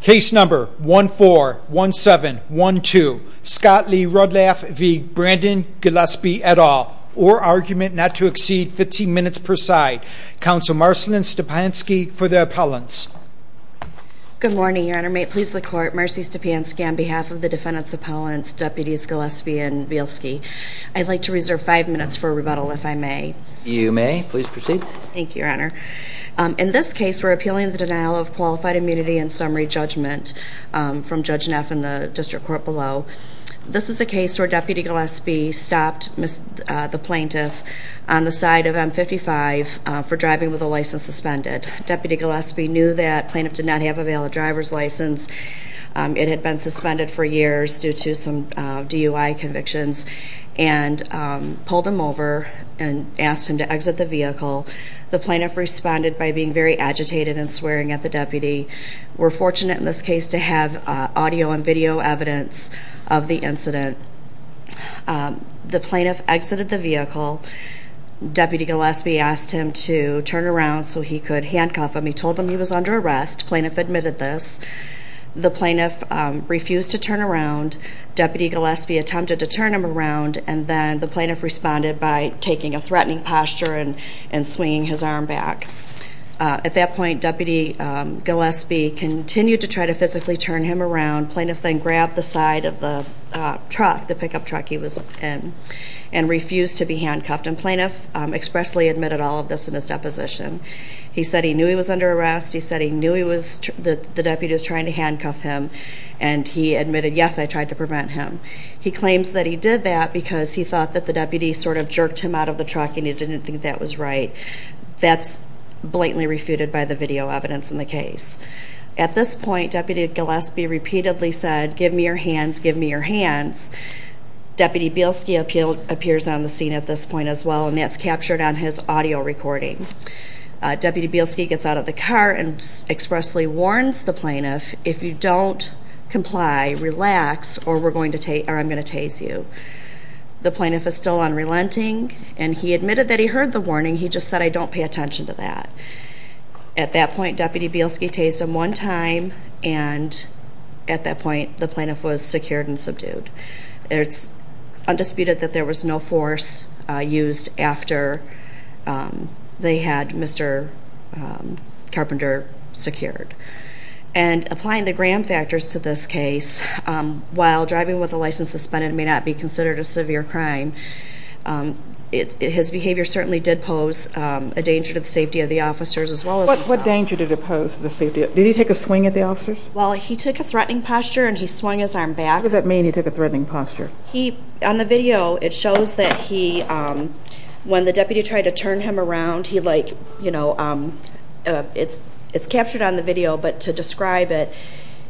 Case number 141712, Scott Lee Rudlaff v. Brandon Gillispie et al. Or argument not to exceed 15 minutes per side. Counsel Marcellin Stepanski for the appellants. Good morning, your honor. May it please the court, Marcy Stepanski on behalf of the defendant's appellants, deputies Gillispie and Bielski. I'd like to reserve five minutes for rebuttal if I may. You may. Please proceed. Thank you, your honor. In this case, we're appealing the denial of qualified immunity and summary judgment from Judge Neff in the district court below. This is a case where Deputy Gillispie stopped the plaintiff on the side of M55 for driving with a license suspended. Deputy Gillispie knew that the plaintiff did not have a valid driver's license. It had been suspended for years due to some DUI convictions. and pulled him over and asked him to exit the vehicle. The plaintiff responded by being very agitated and swearing at the deputy. We're fortunate in this case to have audio and video evidence of the incident. The plaintiff exited the vehicle. Deputy Gillispie asked him to turn around so he could handcuff him. He told him he was under arrest. Plaintiff admitted this. The plaintiff refused to turn around. Deputy Gillispie attempted to turn him around. The plaintiff responded by taking a threatening posture and swinging his arm back. At that point, Deputy Gillispie continued to try to physically turn him around. Plaintiff then grabbed the side of the pickup truck he was in and refused to be handcuffed. Plaintiff expressly admitted all of this in his deposition. He said he knew he was under arrest. He said he knew the deputy was trying to handcuff him. And he admitted, yes, I tried to prevent him. He claims that he did that because he thought that the deputy sort of jerked him out of the truck and he didn't think that was right. That's blatantly refuted by the video evidence in the case. At this point, Deputy Gillispie repeatedly said, give me your hands, give me your hands. Deputy Bielski appears on the scene at this point as well, and that's captured on his audio recording. Deputy Bielski gets out of the car and expressly warns the plaintiff, if you don't comply, relax, or I'm going to tase you. The plaintiff is still unrelenting, and he admitted that he heard the warning. He just said, I don't pay attention to that. At that point, Deputy Bielski tased him one time, and at that point the plaintiff was secured and subdued. It's undisputed that there was no force used after they had Mr. Carpenter secured. And applying the Graham factors to this case, while driving with a license suspended may not be considered a severe crime, his behavior certainly did pose a danger to the safety of the officers as well as himself. What danger did it pose to the safety of the officers? Did he take a swing at the officers? Well, he took a threatening posture and he swung his arm back. What does that mean, he took a threatening posture? On the video, it shows that he, when the deputy tried to turn him around, he like, you know, it's captured on the video, but to describe it,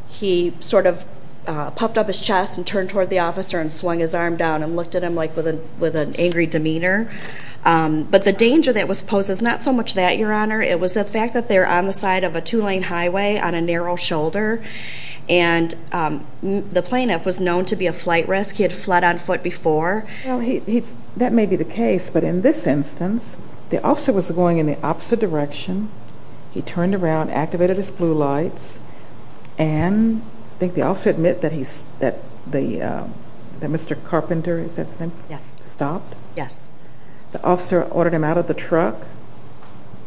he sort of puffed up his chest and turned toward the officer and swung his arm down and looked at him like with an angry demeanor. But the danger that was posed was not so much that, Your Honor. It was the fact that they were on the side of a two-lane highway on a narrow shoulder, and the plaintiff was known to be a flight risk. He had fled on foot before. Well, that may be the case, but in this instance, the officer was going in the opposite direction. He turned around, activated his blue lights, and I think the officer admitted that Mr. Carpenter, is that his name? Yes. Stopped. Yes. The officer ordered him out of the truck.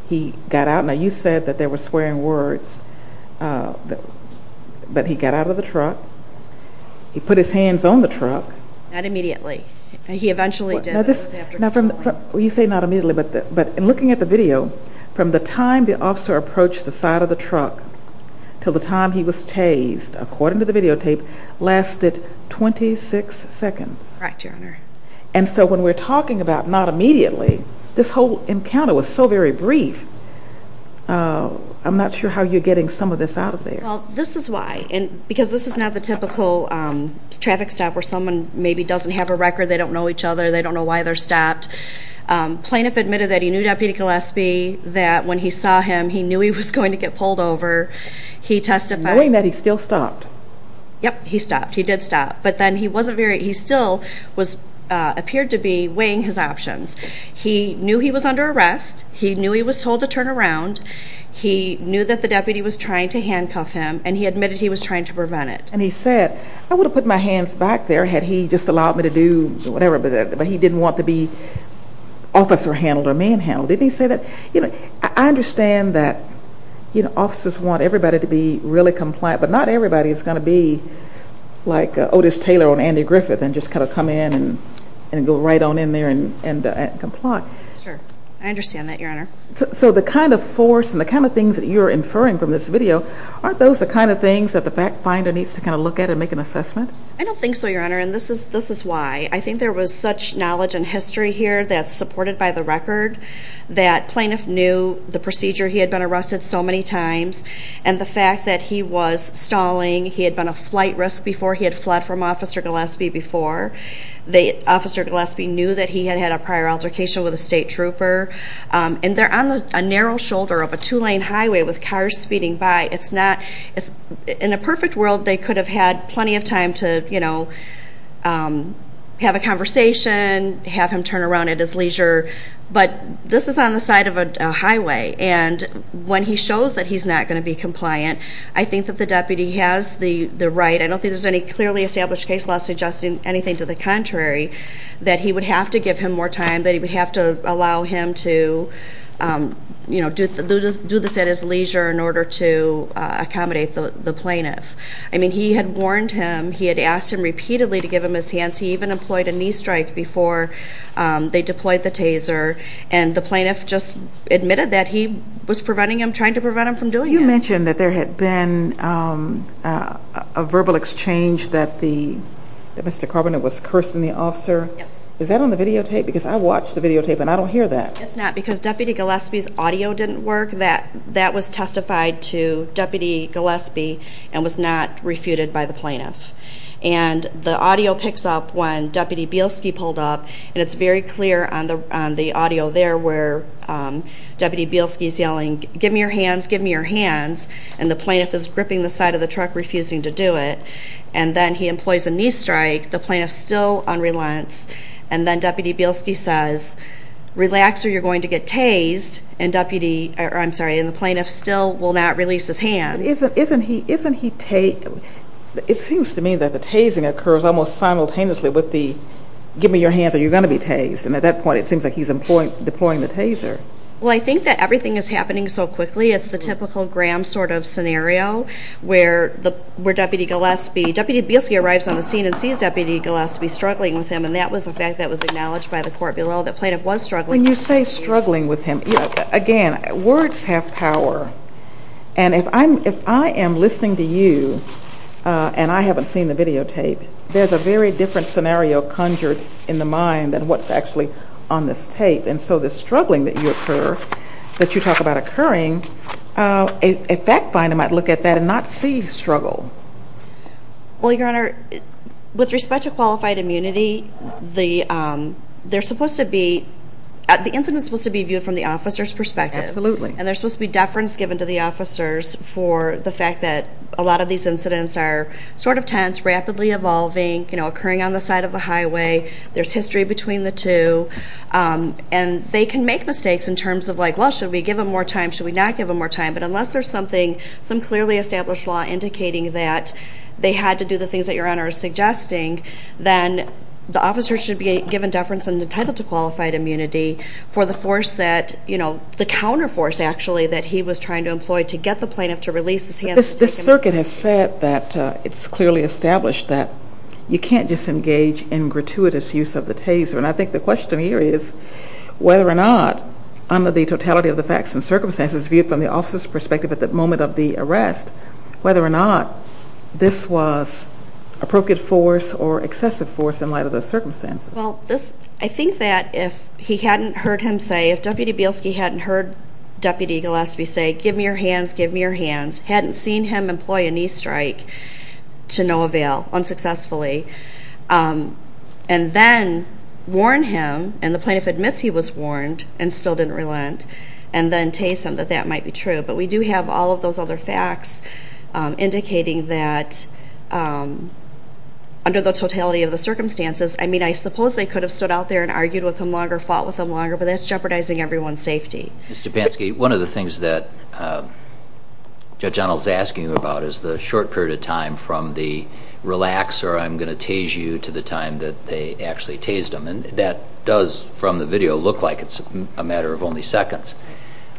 He got out. Now, you said that they were swearing words, but he got out of the truck. He put his hands on the truck. Not immediately. He eventually did. You say not immediately, but in looking at the video, from the time the officer approached the side of the truck until the time he was tased, according to the videotape, lasted 26 seconds. Correct, Your Honor. And so when we're talking about not immediately, this whole encounter was so very brief. I'm not sure how you're getting some of this out of there. Well, this is why, because this is not the typical traffic stop where someone maybe doesn't have a record, they don't know each other, they don't know why they're stopped. Plaintiff admitted that he knew Deputy Gillespie, that when he saw him he knew he was going to get pulled over. Knowing that he still stopped. Yep, he stopped. He did stop. But then he still appeared to be weighing his options. He knew he was under arrest. He knew he was told to turn around. He knew that the deputy was trying to handcuff him, and he admitted he was trying to prevent it. And he said, I would have put my hands back there had he just allowed me to do whatever, but he didn't want to be officer handled or man handled. Didn't he say that? I understand that officers want everybody to be really compliant, but not everybody is going to be like Otis Taylor on Andy Griffith and just kind of come in and go right on in there and comply. Sure, I understand that, Your Honor. So the kind of force and the kind of things that you're inferring from this video aren't those the kind of things that the fact finder needs to kind of look at and make an assessment? I don't think so, Your Honor, and this is why. I think there was such knowledge and history here that's supported by the record that plaintiff knew the procedure he had been arrested so many times and the fact that he was stalling. He had been a flight risk before. He had fled from Officer Gillespie before. Officer Gillespie knew that he had had a prior altercation with a state trooper. And they're on a narrow shoulder of a two-lane highway with cars speeding by. In a perfect world, they could have had plenty of time to have a conversation, have him turn around at his leisure, but this is on the side of a highway. And when he shows that he's not going to be compliant, I think that the deputy has the right. I don't think there's any clearly established case law suggesting anything to the contrary, that he would have to give him more time, that he would have to allow him to do this at his leisure in order to accommodate the plaintiff. I mean, he had warned him. He had asked him repeatedly to give him his hands. He even employed a knee strike before they deployed the taser. And the plaintiff just admitted that he was preventing him, trying to prevent him from doing it. You mentioned that there had been a verbal exchange that Mr. Carbonell was cursing the officer. Yes. Is that on the videotape? Because I watched the videotape and I don't hear that. It's not because Deputy Gillespie's audio didn't work. That was testified to Deputy Gillespie and was not refuted by the plaintiff. And the audio picks up when Deputy Bielski pulled up, and it's very clear on the audio there where Deputy Bielski's yelling, give me your hands, give me your hands. And the plaintiff is gripping the side of the truck, refusing to do it. And then he employs a knee strike. The plaintiff's still on reliance. And then Deputy Bielski says, relax or you're going to get tased. And the plaintiff still will not release his hands. Isn't he tased? It seems to me that the tasing occurs almost simultaneously with the, give me your hands or you're going to be tased. And at that point it seems like he's deploying the taser. Well, I think that everything is happening so quickly. It's the typical Graham sort of scenario where Deputy Gillespie, Deputy Bielski arrives on the scene and sees Deputy Gillespie struggling with him, and that was a fact that was acknowledged by the court below, that the plaintiff was struggling with him. When you say struggling with him, again, words have power. And if I am listening to you and I haven't seen the videotape, there's a very different scenario conjured in the mind than what's actually on this tape. And so the struggling that you talk about occurring, a fact finder might look at that and not see struggle. Well, Your Honor, with respect to qualified immunity, the incident is supposed to be viewed from the officer's perspective. Absolutely. And there's supposed to be deference given to the officers for the fact that a lot of these incidents are sort of tense, rapidly evolving, occurring on the side of the highway. There's history between the two. And they can make mistakes in terms of like, well, should we give him more time, should we not give him more time? But unless there's something, some clearly established law indicating that they had to do the things that Your Honor is suggesting, then the officer should be given deference and entitled to qualified immunity for the force that, you know, the counter force, actually, that he was trying to employ to get the plaintiff to release his hands. This circuit has said that it's clearly established that you can't just engage in gratuitous use of the taser. And I think the question here is whether or not, under the totality of the facts and circumstances viewed from the officer's perspective at the moment of the arrest, whether or not this was appropriate force or excessive force in light of those circumstances. Well, I think that if he hadn't heard him say, if Deputy Bielski hadn't heard Deputy Gillespie say, give me your hands, give me your hands, hadn't seen him employ a knee strike to no avail, unsuccessfully, and then warn him, and the plaintiff admits he was warned and still didn't relent, and then tase him that that might be true. But we do have all of those other facts indicating that under the totality of the circumstances, I mean, I suppose they could have stood out there and argued with him longer, fought with him longer, but that's jeopardizing everyone's safety. Ms. Dubansky, one of the things that Judge Arnold is asking about is the short period of time from the relax, or I'm going to tase you, to the time that they actually tased him. And that does, from the video, look like it's a matter of only seconds.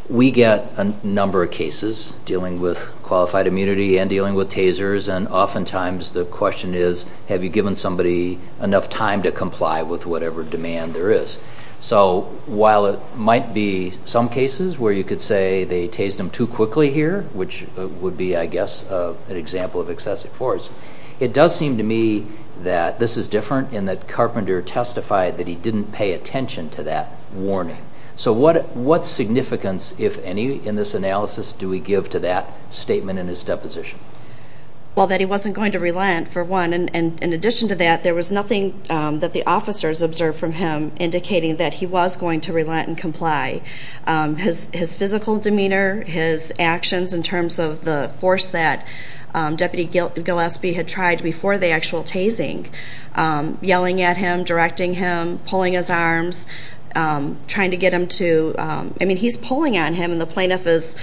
We get a number of cases dealing with qualified immunity and dealing with tasers, and oftentimes the question is, have you given somebody enough time to comply with whatever demand there is? So while it might be some cases where you could say they tased him too quickly here, which would be, I guess, an example of excessive force, it does seem to me that this is different in that Carpenter testified that he didn't pay attention to that warning. So what significance, if any, in this analysis, do we give to that statement in his deposition? Well, that he wasn't going to relent, for one, and in addition to that, there was nothing that the officers observed from him indicating that he was going to relent and comply. His physical demeanor, his actions in terms of the force that Deputy Gillespie had tried before the actual tasing, yelling at him, directing him, pulling his arms, trying to get him to, I mean, he's pulling on him and the plaintiff is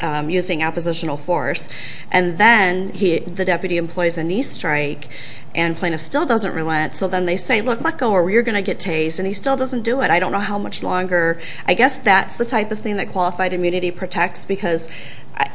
using oppositional force. And then the deputy employs a knee strike and plaintiff still doesn't relent, so then they say, look, let go or you're going to get tased, and he still doesn't do it. I don't know how much longer. I guess that's the type of thing that qualified immunity protects because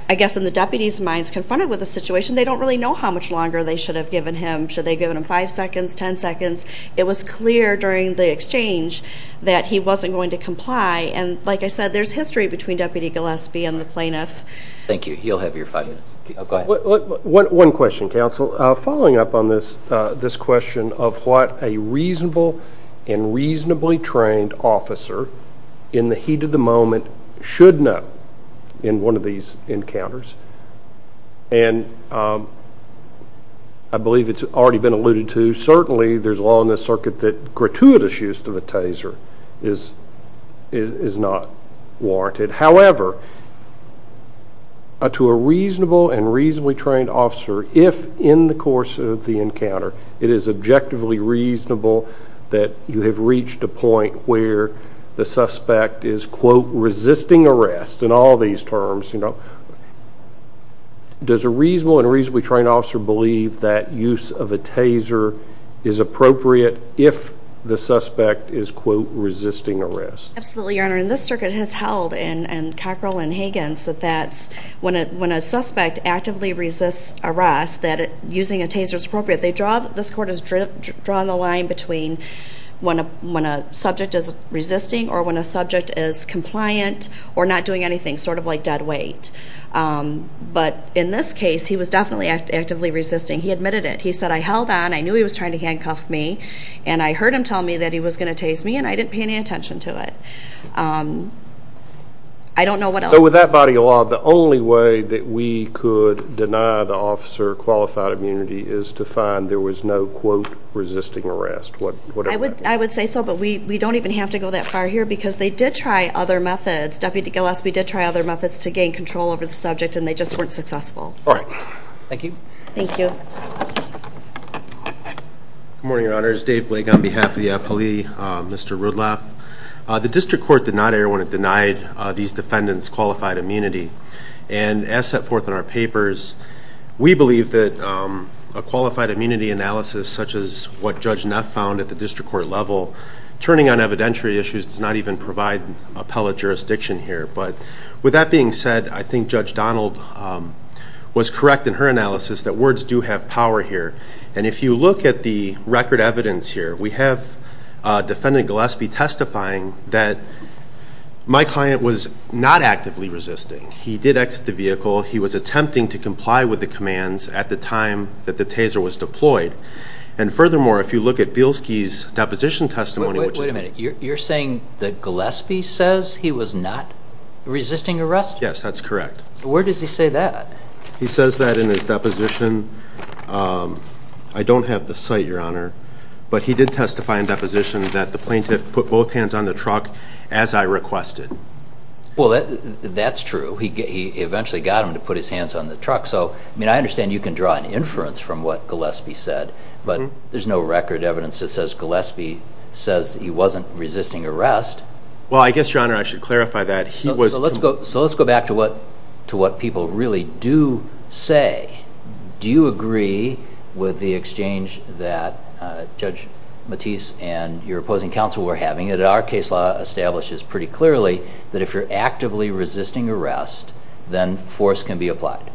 I guess in the deputy's minds, confronted with the situation, they don't really know how much longer they should have given him. Should they have given him 5 seconds, 10 seconds? It was clear during the exchange that he wasn't going to comply, and like I said, there's history between Deputy Gillespie and the plaintiff. Thank you. You'll have your 5 minutes. Go ahead. One question, counsel. Following up on this question of what a reasonable and reasonably trained officer in the heat of the moment should know in one of these encounters, and I believe it's already been alluded to, certainly there's law in this circuit that gratuitous use of a taser is not warranted. However, to a reasonable and reasonably trained officer, if in the course of the encounter it is objectively reasonable that you have reached a point where the suspect is, quote, resisting arrest, in all these terms, you know, does a reasonable and reasonably trained officer believe that use of a taser is appropriate if the suspect is, quote, resisting arrest? Absolutely, Your Honor, and this circuit has held in Cockrell and Higgins that when a suspect actively resists arrest, that using a taser is appropriate. This court has drawn the line between when a subject is resisting or when a subject is compliant or not doing anything, sort of like dead weight. But in this case, he was definitely actively resisting. He admitted it. He said, I held on. I knew he was trying to handcuff me, and I heard him tell me that he was going to tase me, and I didn't pay any attention to it. I don't know what else. So with that body of law, the only way that we could deny the officer qualified immunity is to find there was no, quote, resisting arrest, whatever that is. I would say so, but we don't even have to go that far here because they did try other methods. Deputy Gillespie did try other methods to gain control over the subject, and they just weren't successful. All right. Thank you. Thank you. Good morning, Your Honors. Dave Blake on behalf of the appellee, Mr. Rudloff. The district court did not err when it denied these defendants qualified immunity, and as set forth in our papers, we believe that a qualified immunity analysis such as what Judge Neff found at the district court level, turning on evidentiary issues does not even provide appellate jurisdiction here. But with that being said, I think Judge Donald was correct in her analysis that words do have power here. And if you look at the record evidence here, we have Defendant Gillespie testifying that my client was not actively resisting. He did exit the vehicle. He was attempting to comply with the commands at the time that the taser was deployed. And furthermore, if you look at Bielski's deposition testimony. Wait a minute. You're saying that Gillespie says he was not resisting arrest? Yes, that's correct. Where does he say that? He says that in his deposition. I don't have the site, Your Honor, but he did testify in deposition that the plaintiff put both hands on the truck as I requested. He eventually got him to put his hands on the truck. I understand you can draw an inference from what Gillespie said, but there's no record evidence that says Gillespie says he wasn't resisting arrest. Well, I guess, Your Honor, I should clarify that. So let's go back to what people really do say. Do you agree with the exchange that Judge Matisse and your opposing counsel were having that our case law establishes pretty clearly that if you're actively resisting arrest, then force can be applied?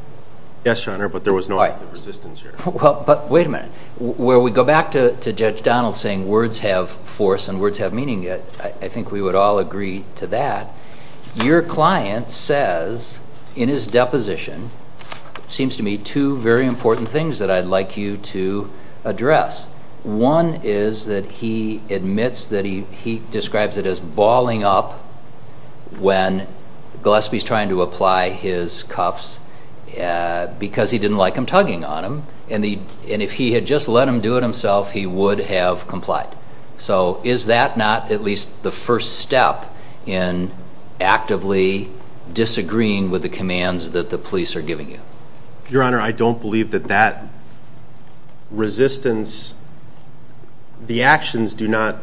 Yes, Your Honor, but there was no active resistance here. Wait a minute. Where we go back to Judge Donald saying words have force and words have meaning, I think we would all agree to that. Your client says in his deposition, it seems to me, two very important things that I'd like you to address. One is that he admits that he describes it as balling up when Gillespie's trying to apply his cuffs because he didn't like him tugging on him, and if he had just let him do it himself, he would have complied. So is that not at least the first step in actively disagreeing with the commands that the police are giving you? Your Honor, I don't believe that that resistance, the actions do not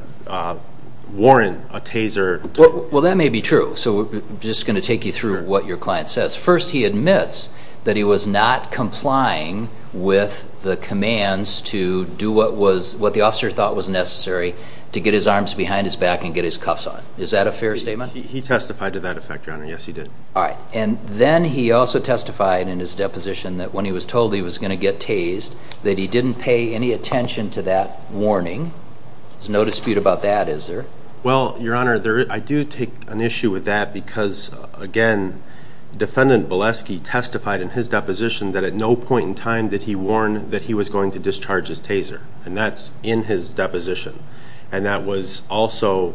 warrant a taser. Well, that may be true. So I'm just going to take you through what your client says. First, he admits that he was not complying with the commands to do what the officer thought was necessary to get his arms behind his back and get his cuffs on. Is that a fair statement? He testified to that effect, Your Honor. Yes, he did. All right. And then he also testified in his deposition that when he was told he was going to get tased that he didn't pay any attention to that warning. There's no dispute about that, is there? Well, Your Honor, I do take an issue with that because, again, Defendant Bileski testified in his deposition that at no point in time did he warn that he was going to discharge his taser, and that's in his deposition, and that was also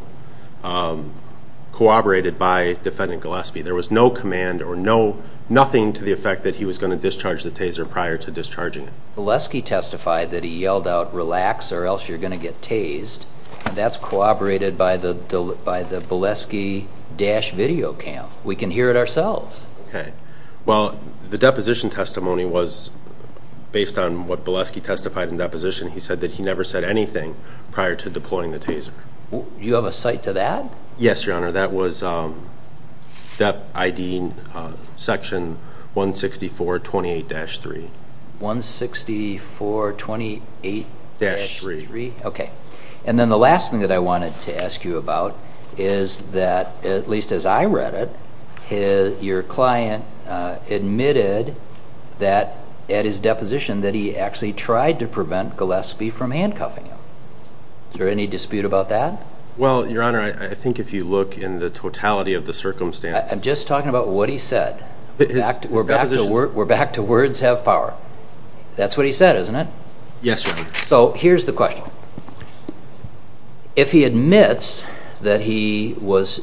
corroborated by Defendant Gillespie. There was no command or nothing to the effect that he was going to discharge the taser prior to discharging it. Bileski testified that he yelled out, or else you're going to get tased, and that's corroborated by the Bileski dash video cam. We can hear it ourselves. Okay. Well, the deposition testimony was based on what Bileski testified in deposition. He said that he never said anything prior to deploying the taser. Do you have a cite to that? Yes, Your Honor. That was DEP ID section 16428-3. 16428-3? Yes. Okay. And then the last thing that I wanted to ask you about is that, at least as I read it, your client admitted that at his deposition that he actually tried to prevent Gillespie from handcuffing him. Is there any dispute about that? Well, Your Honor, I think if you look in the totality of the circumstances. I'm just talking about what he said. We're back to words have power. That's what he said, isn't it? Yes, Your Honor. So here's the question. If he admits that he was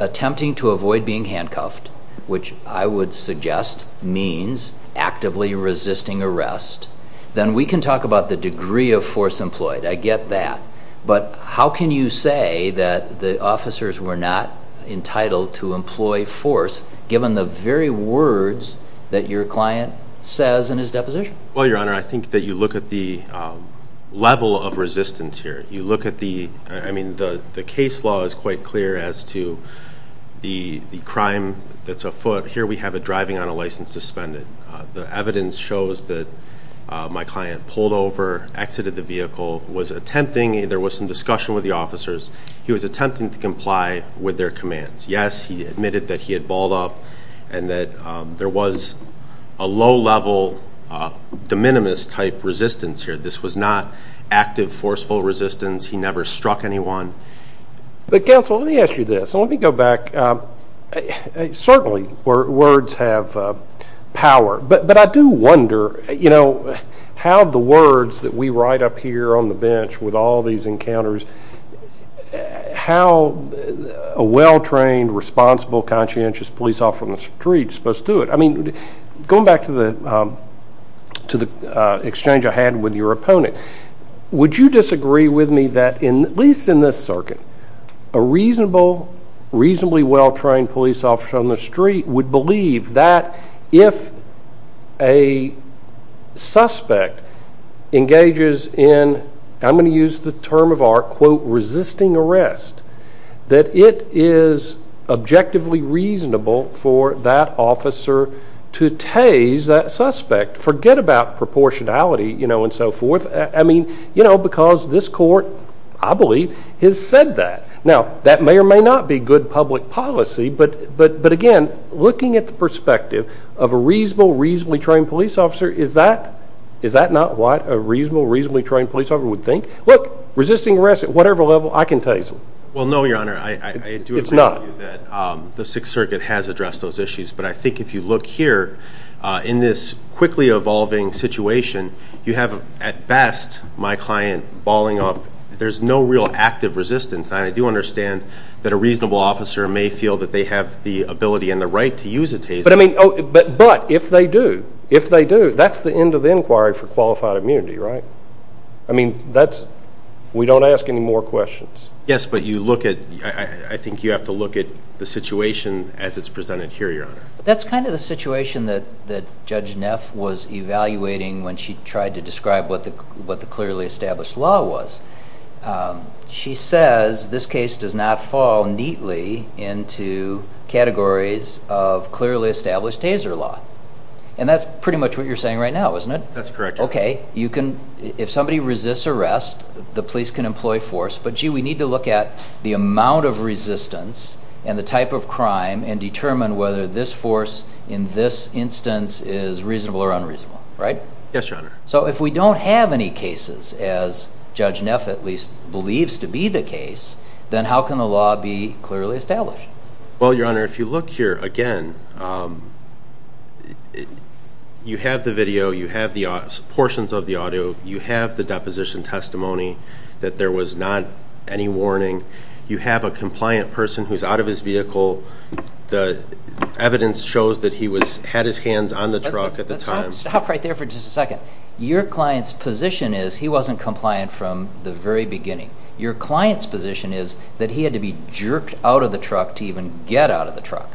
attempting to avoid being handcuffed, which I would suggest means actively resisting arrest, then we can talk about the degree of force employed. I get that. But how can you say that the officers were not entitled to employ force, given the very words that your client says in his deposition? Well, Your Honor, I think that you look at the level of resistance here. You look at the case law is quite clear as to the crime that's afoot. Here we have a driving on a license suspended. The evidence shows that my client pulled over, exited the vehicle, was attempting. There was some discussion with the officers. He was attempting to comply with their commands. Yes, he admitted that he had balled up and that there was a low-level de minimis type resistance here. This was not active forceful resistance. He never struck anyone. But, counsel, let me ask you this. Let me go back. Certainly, words have power. But I do wonder how the words that we write up here on the bench with all these encounters, how a well-trained, responsible, conscientious police officer on the street is supposed to do it. Going back to the exchange I had with your opponent, would you disagree with me that, at least in this circuit, a reasonably well-trained police officer on the street would believe that if a suspect engages in, I'm going to use the term of art, quote, resisting arrest, that it is objectively reasonable for that officer to tase that suspect? Forget about proportionality, you know, and so forth. I mean, you know, because this court, I believe, has said that. Now, that may or may not be good public policy. But, again, looking at the perspective of a reasonable, reasonably trained police officer, is that not what a reasonable, reasonably trained police officer would think? Look, resisting arrest at whatever level, I can tase them. Well, no, Your Honor. It's not. I do agree with you that the Sixth Circuit has addressed those issues. But I think if you look here, in this quickly evolving situation, you have, at best, my client balling up. There's no real active resistance. I do understand that a reasonable officer may feel that they have the ability and the right to use a taser. But, I mean, but if they do, if they do, that's the end of the inquiry for qualified immunity, right? I mean, that's, we don't ask any more questions. Yes, but you look at, I think you have to look at the situation as it's presented here, Your Honor. That's kind of the situation that Judge Neff was evaluating when she tried to describe what the clearly established law was. She says this case does not fall neatly into categories of clearly established taser law. And that's pretty much what you're saying right now, isn't it? That's correct. Okay, you can, if somebody resists arrest, the police can employ force. But, gee, we need to look at the amount of resistance and the type of crime and determine whether this force in this instance is reasonable or unreasonable, right? Yes, Your Honor. So if we don't have any cases, as Judge Neff, at least, believes to be the case, then how can the law be clearly established? Well, Your Honor, if you look here again, you have the video, you have the portions of the audio, you have the deposition testimony that there was not any warning. You have a compliant person who's out of his vehicle. The evidence shows that he had his hands on the truck at the time. Stop right there for just a second. Your client's position is he wasn't compliant from the very beginning. Your client's position is that he had to be jerked out of the truck to even get out of the truck.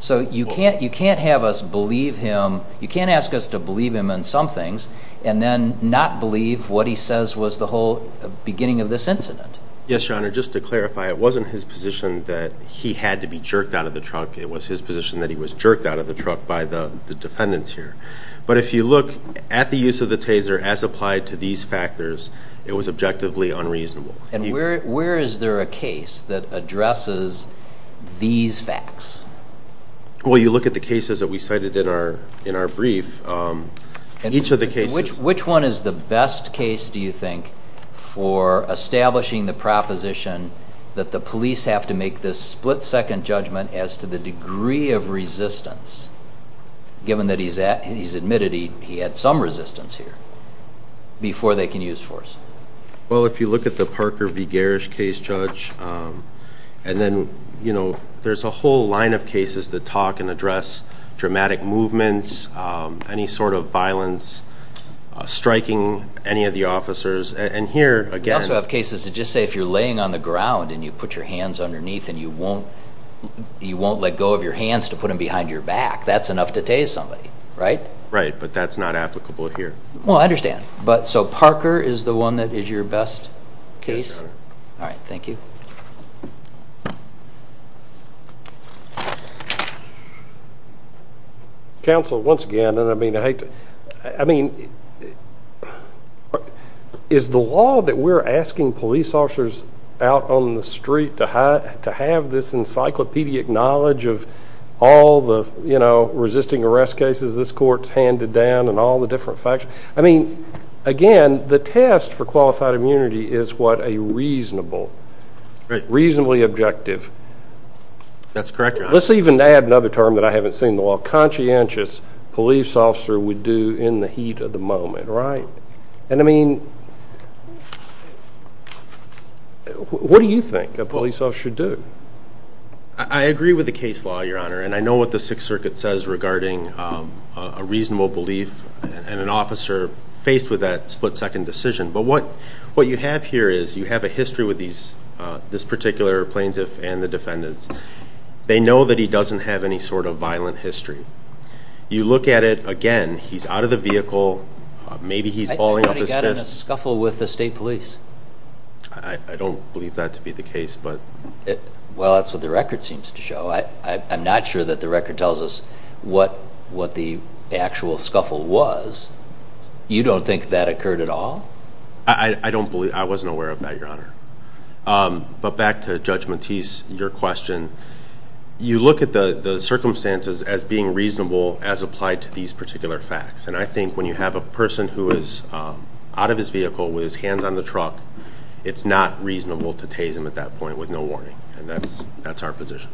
So you can't have us believe him. You can't ask us to believe him on some things and then not believe what he says was the whole beginning of this incident. Yes, Your Honor, just to clarify, it wasn't his position that he had to be jerked out of the truck. It was his position that he was jerked out of the truck by the defendants here. But if you look at the use of the taser as applied to these factors, it was objectively unreasonable. And where is there a case that addresses these facts? Well, you look at the cases that we cited in our brief. Which one is the best case, do you think, for establishing the proposition that the police have to make this split-second judgment as to the degree of resistance, given that he's admitted he had some resistance here, before they can use force? Well, if you look at the Parker v. Garish case, Judge, and then there's a whole line of cases that talk and address dramatic movements, any sort of violence, striking any of the officers. And here, again... We also have cases that just say if you're laying on the ground and you put your hands underneath and you won't let go of your hands to put them behind your back, that's enough to tase somebody, right? Right, but that's not applicable here. Well, I understand. So Parker is the one that is your best case? Yes, sir. All right, thank you. Counsel, once again, and I mean, I hate to... I mean, is the law that we're asking police officers out on the street to have this encyclopedic knowledge of all the resisting arrest cases this court's handed down and all the different facts? I mean, again, the test for qualified immunity is what a reasonably objective... That's correct, Your Honor. Let's even add another term that I haven't seen the law. Conscientious police officer would do in the heat of the moment, right? And I mean, what do you think a police officer should do? I agree with the case law, Your Honor, and I know what the Sixth Circuit says regarding a reasonable belief and an officer faced with that split-second decision. But what you have here is you have a history with this particular plaintiff and the defendants. They know that he doesn't have any sort of violent history. You look at it again. He's out of the vehicle. Maybe he's balling up his fists. I think that he got in a scuffle with the state police. I don't believe that to be the case, but... Well, that's what the record seems to show. I'm not sure that the record tells us what the actual scuffle was. You don't think that occurred at all? I don't believe. I wasn't aware of that, Your Honor. But back to Judge Matisse, your question, you look at the circumstances as being reasonable as applied to these particular facts. And I think when you have a person who is out of his vehicle with his hands on the truck, it's not reasonable to tase him at that point with no warning, and that's our position.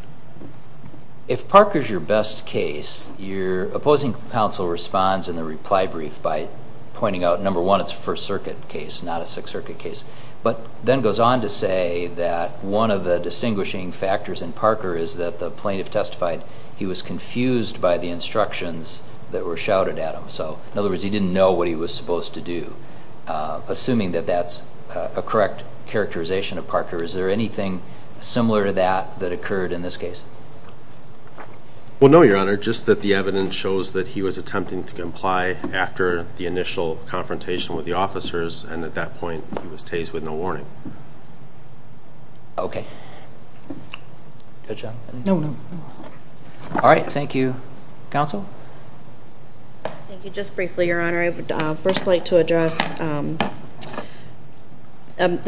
If Parker's your best case, your opposing counsel responds in the reply brief by pointing out, number one, it's a First Circuit case, not a Sixth Circuit case, but then goes on to say that one of the distinguishing factors in Parker is that the plaintiff testified he was confused by the instructions that were shouted at him. So, in other words, he didn't know what he was supposed to do. Assuming that that's a correct characterization of Parker, is there anything similar to that that occurred in this case? Well, no, Your Honor. Just that the evidence shows that he was attempting to comply after the initial confrontation with the officers, and at that point he was tased with no warning. Okay. Good job. No, no. All right, thank you. Counsel? Thank you. Just briefly, Your Honor, I would first like to address the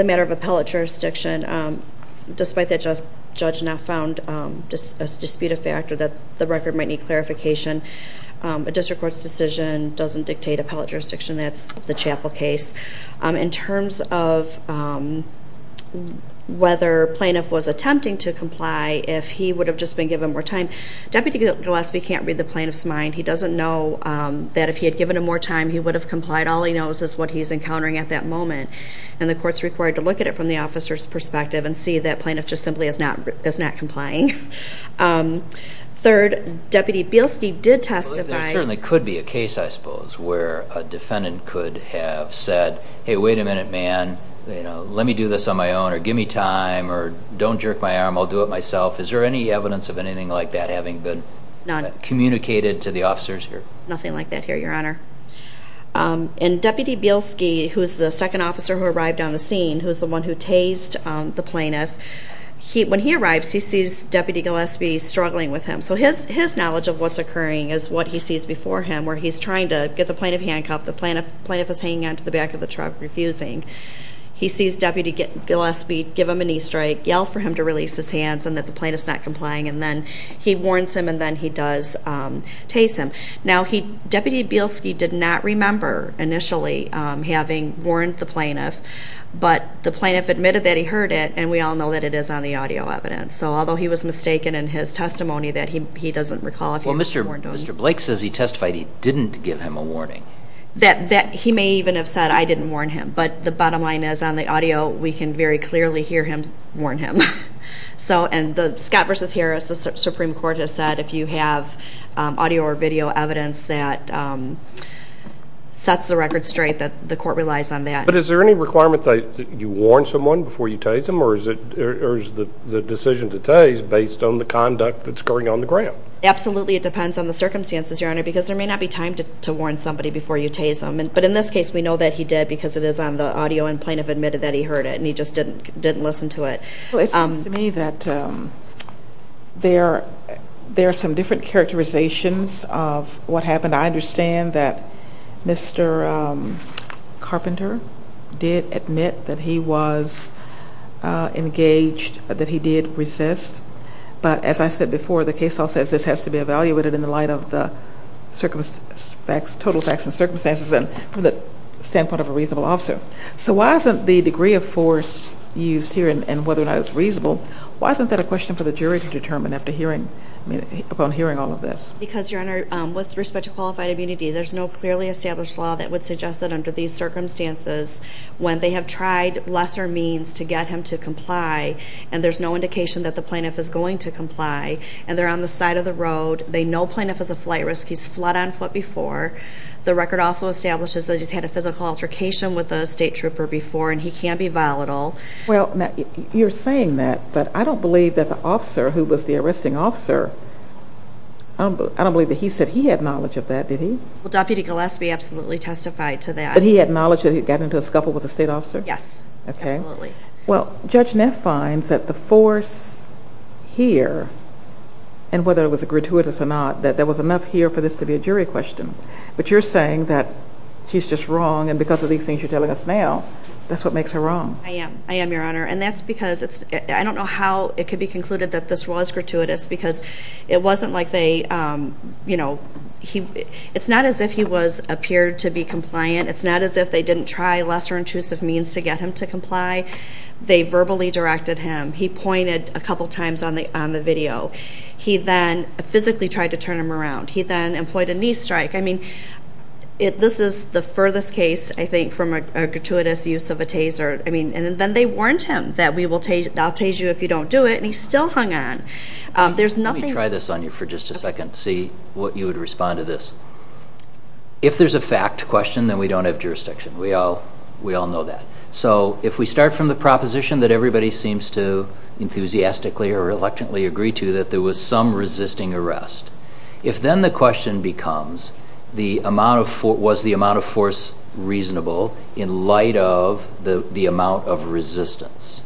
matter of appellate jurisdiction. Despite the judge not found a disputed factor that the record might need clarification, a district court's decision doesn't dictate appellate jurisdiction. That's the Chapel case. In terms of whether plaintiff was attempting to comply, if he would have just been given more time, Deputy Gillespie can't read the plaintiff's mind. He doesn't know that if he had given him more time, he would have complied. All he knows is what he's encountering at that moment, and the court's required to look at it from the officer's perspective and see that plaintiff just simply is not complying. Third, Deputy Bielski did testify. There certainly could be a case, I suppose, where a defendant could have said, hey, wait a minute, man, let me do this on my own, or give me time, or don't jerk my arm, I'll do it myself. Is there any evidence of anything like that having been communicated to the officers here? Nothing like that here, Your Honor. And Deputy Bielski, who's the second officer who arrived on the scene, who's the one who tased the plaintiff, when he arrives, he sees Deputy Gillespie struggling with him. So his knowledge of what's occurring is what he sees before him, where he's trying to get the plaintiff handcuffed, the plaintiff is hanging on to the back of the truck, refusing. He sees Deputy Gillespie give him a knee strike, yell for him to release his hands, and that the plaintiff's not complying, and then he warns him, and then he does tase him. Now, Deputy Bielski did not remember initially having warned the plaintiff, but the plaintiff admitted that he heard it, and we all know that it is on the audio evidence. So although he was mistaken in his testimony that he doesn't recall having warned him. Well, Mr. Blake says he testified he didn't give him a warning. That he may even have said, I didn't warn him. But the bottom line is, on the audio, we can very clearly hear him warn him. And Scott v. Harris, the Supreme Court has said, if you have audio or video evidence that sets the record straight, that the court relies on that. But is there any requirement that you warn someone before you tase them, or is the decision to tase based on the conduct that's going on in the grant? Absolutely, it depends on the circumstances, Your Honor, because there may not be time to warn somebody before you tase them. But in this case, we know that he did because it is on the audio, and the plaintiff admitted that he heard it, and he just didn't listen to it. Well, it seems to me that there are some different characterizations of what happened. I understand that Mr. Carpenter did admit that he was engaged, that he did resist. But as I said before, the case all says this has to be evaluated in the light of the total facts and circumstances, and from the standpoint of a reasonable officer. So why isn't the degree of force used here, and whether or not it's reasonable, why isn't that a question for the jury to determine upon hearing all of this? Because, Your Honor, with respect to qualified immunity, there's no clearly established law that would suggest that under these circumstances, when they have tried lesser means to get him to comply, and there's no indication that the plaintiff is going to comply, and they're on the side of the road, they know plaintiff is a flight risk, he's fled on foot before. The record also establishes that he's had a physical altercation with a state trooper before, and he can be volatile. Well, you're saying that, but I don't believe that the officer who was the arresting officer, I don't believe that he said he had knowledge of that, did he? Well, Deputy Gillespie absolutely testified to that. But he had knowledge that he'd gotten into a scuffle with a state officer? Yes, absolutely. Well, Judge Neff finds that the force here, and whether it was gratuitous or not, that there was enough here for this to be a jury question. But you're saying that she's just wrong, and because of these things you're telling us now, that's what makes her wrong? I am, I am, Your Honor. And that's because I don't know how it could be concluded that this was gratuitous, because it wasn't like they, you know, it's not as if he appeared to be compliant. It's not as if they didn't try lesser intrusive means to get him to comply. They verbally directed him. He pointed a couple times on the video. He then physically tried to turn him around. He then employed a knee strike. I mean, this is the furthest case, I think, from a gratuitous use of a taser. I mean, and then they warned him that I'll tase you if you don't do it, and he still hung on. Let me try this on you for just a second to see what you would respond to this. If there's a fact question, then we don't have jurisdiction. We all know that. So if we start from the proposition that everybody seems to enthusiastically or reluctantly agree to, that there was some resisting arrest, if then the question becomes was the amount of force reasonable in light of the amount of resistance,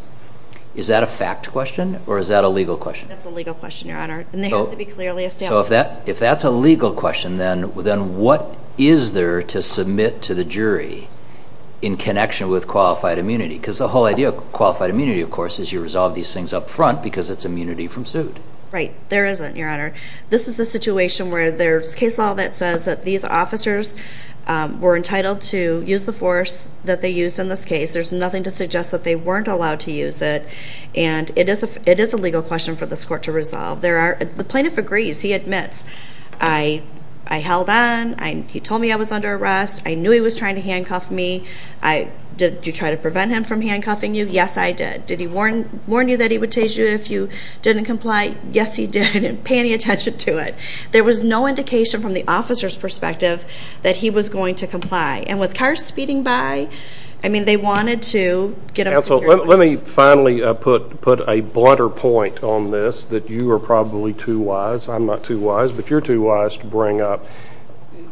is that a fact question or is that a legal question? That's a legal question, Your Honor, and there has to be clearly established. So if that's a legal question, then what is there to submit to the jury in connection with qualified immunity? Because the whole idea of qualified immunity, of course, is you resolve these things up front because it's immunity from suit. Right. There isn't, Your Honor. This is a situation where there's case law that says that these officers were entitled to use the force that they used in this case. There's nothing to suggest that they weren't allowed to use it, and it is a legal question for this court to resolve. The plaintiff agrees. He admits, I held on. He told me I was under arrest. I knew he was trying to handcuff me. Did you try to prevent him from handcuffing you? Yes, I did. Did he warn you that he would tase you if you didn't comply? Yes, he did, and pay any attention to it. There was no indication from the officer's perspective that he was going to comply. And with cars speeding by, I mean, they wanted to get him secured. Counsel, let me finally put a blunter point on this, that you are probably too wise. I'm not too wise, but you're too wise to bring up.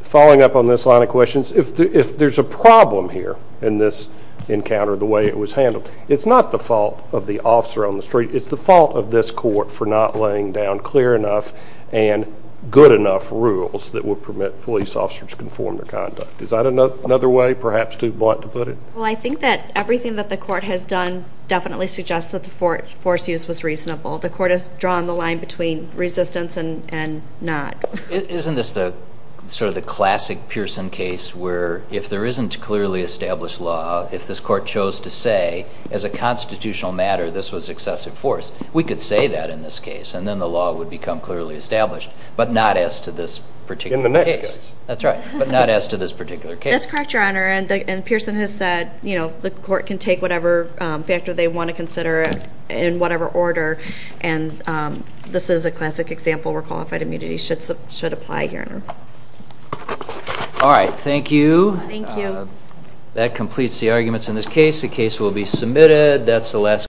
Following up on this line of questions, if there's a problem here in this encounter, the way it was handled, it's not the fault of the officer on the street. It's the fault of this court for not laying down clear enough and good enough rules that would permit police officers to conform to conduct. Is that another way, perhaps too blunt to put it? Well, I think that everything that the court has done definitely suggests that the force use was reasonable. The court has drawn the line between resistance and not. Isn't this sort of the classic Pearson case where if there isn't clearly established law, if this court chose to say, as a constitutional matter, this was excessive force, we could say that in this case, and then the law would become clearly established, but not as to this particular case. In the next case. That's right, but not as to this particular case. That's correct, Your Honor, and Pearson has said the court can take whatever factor they want to consider in whatever order, and this is a classic example where qualified immunity should apply here. All right, thank you. Thank you. That completes the arguments in this case. The case will be submitted. That's the last case.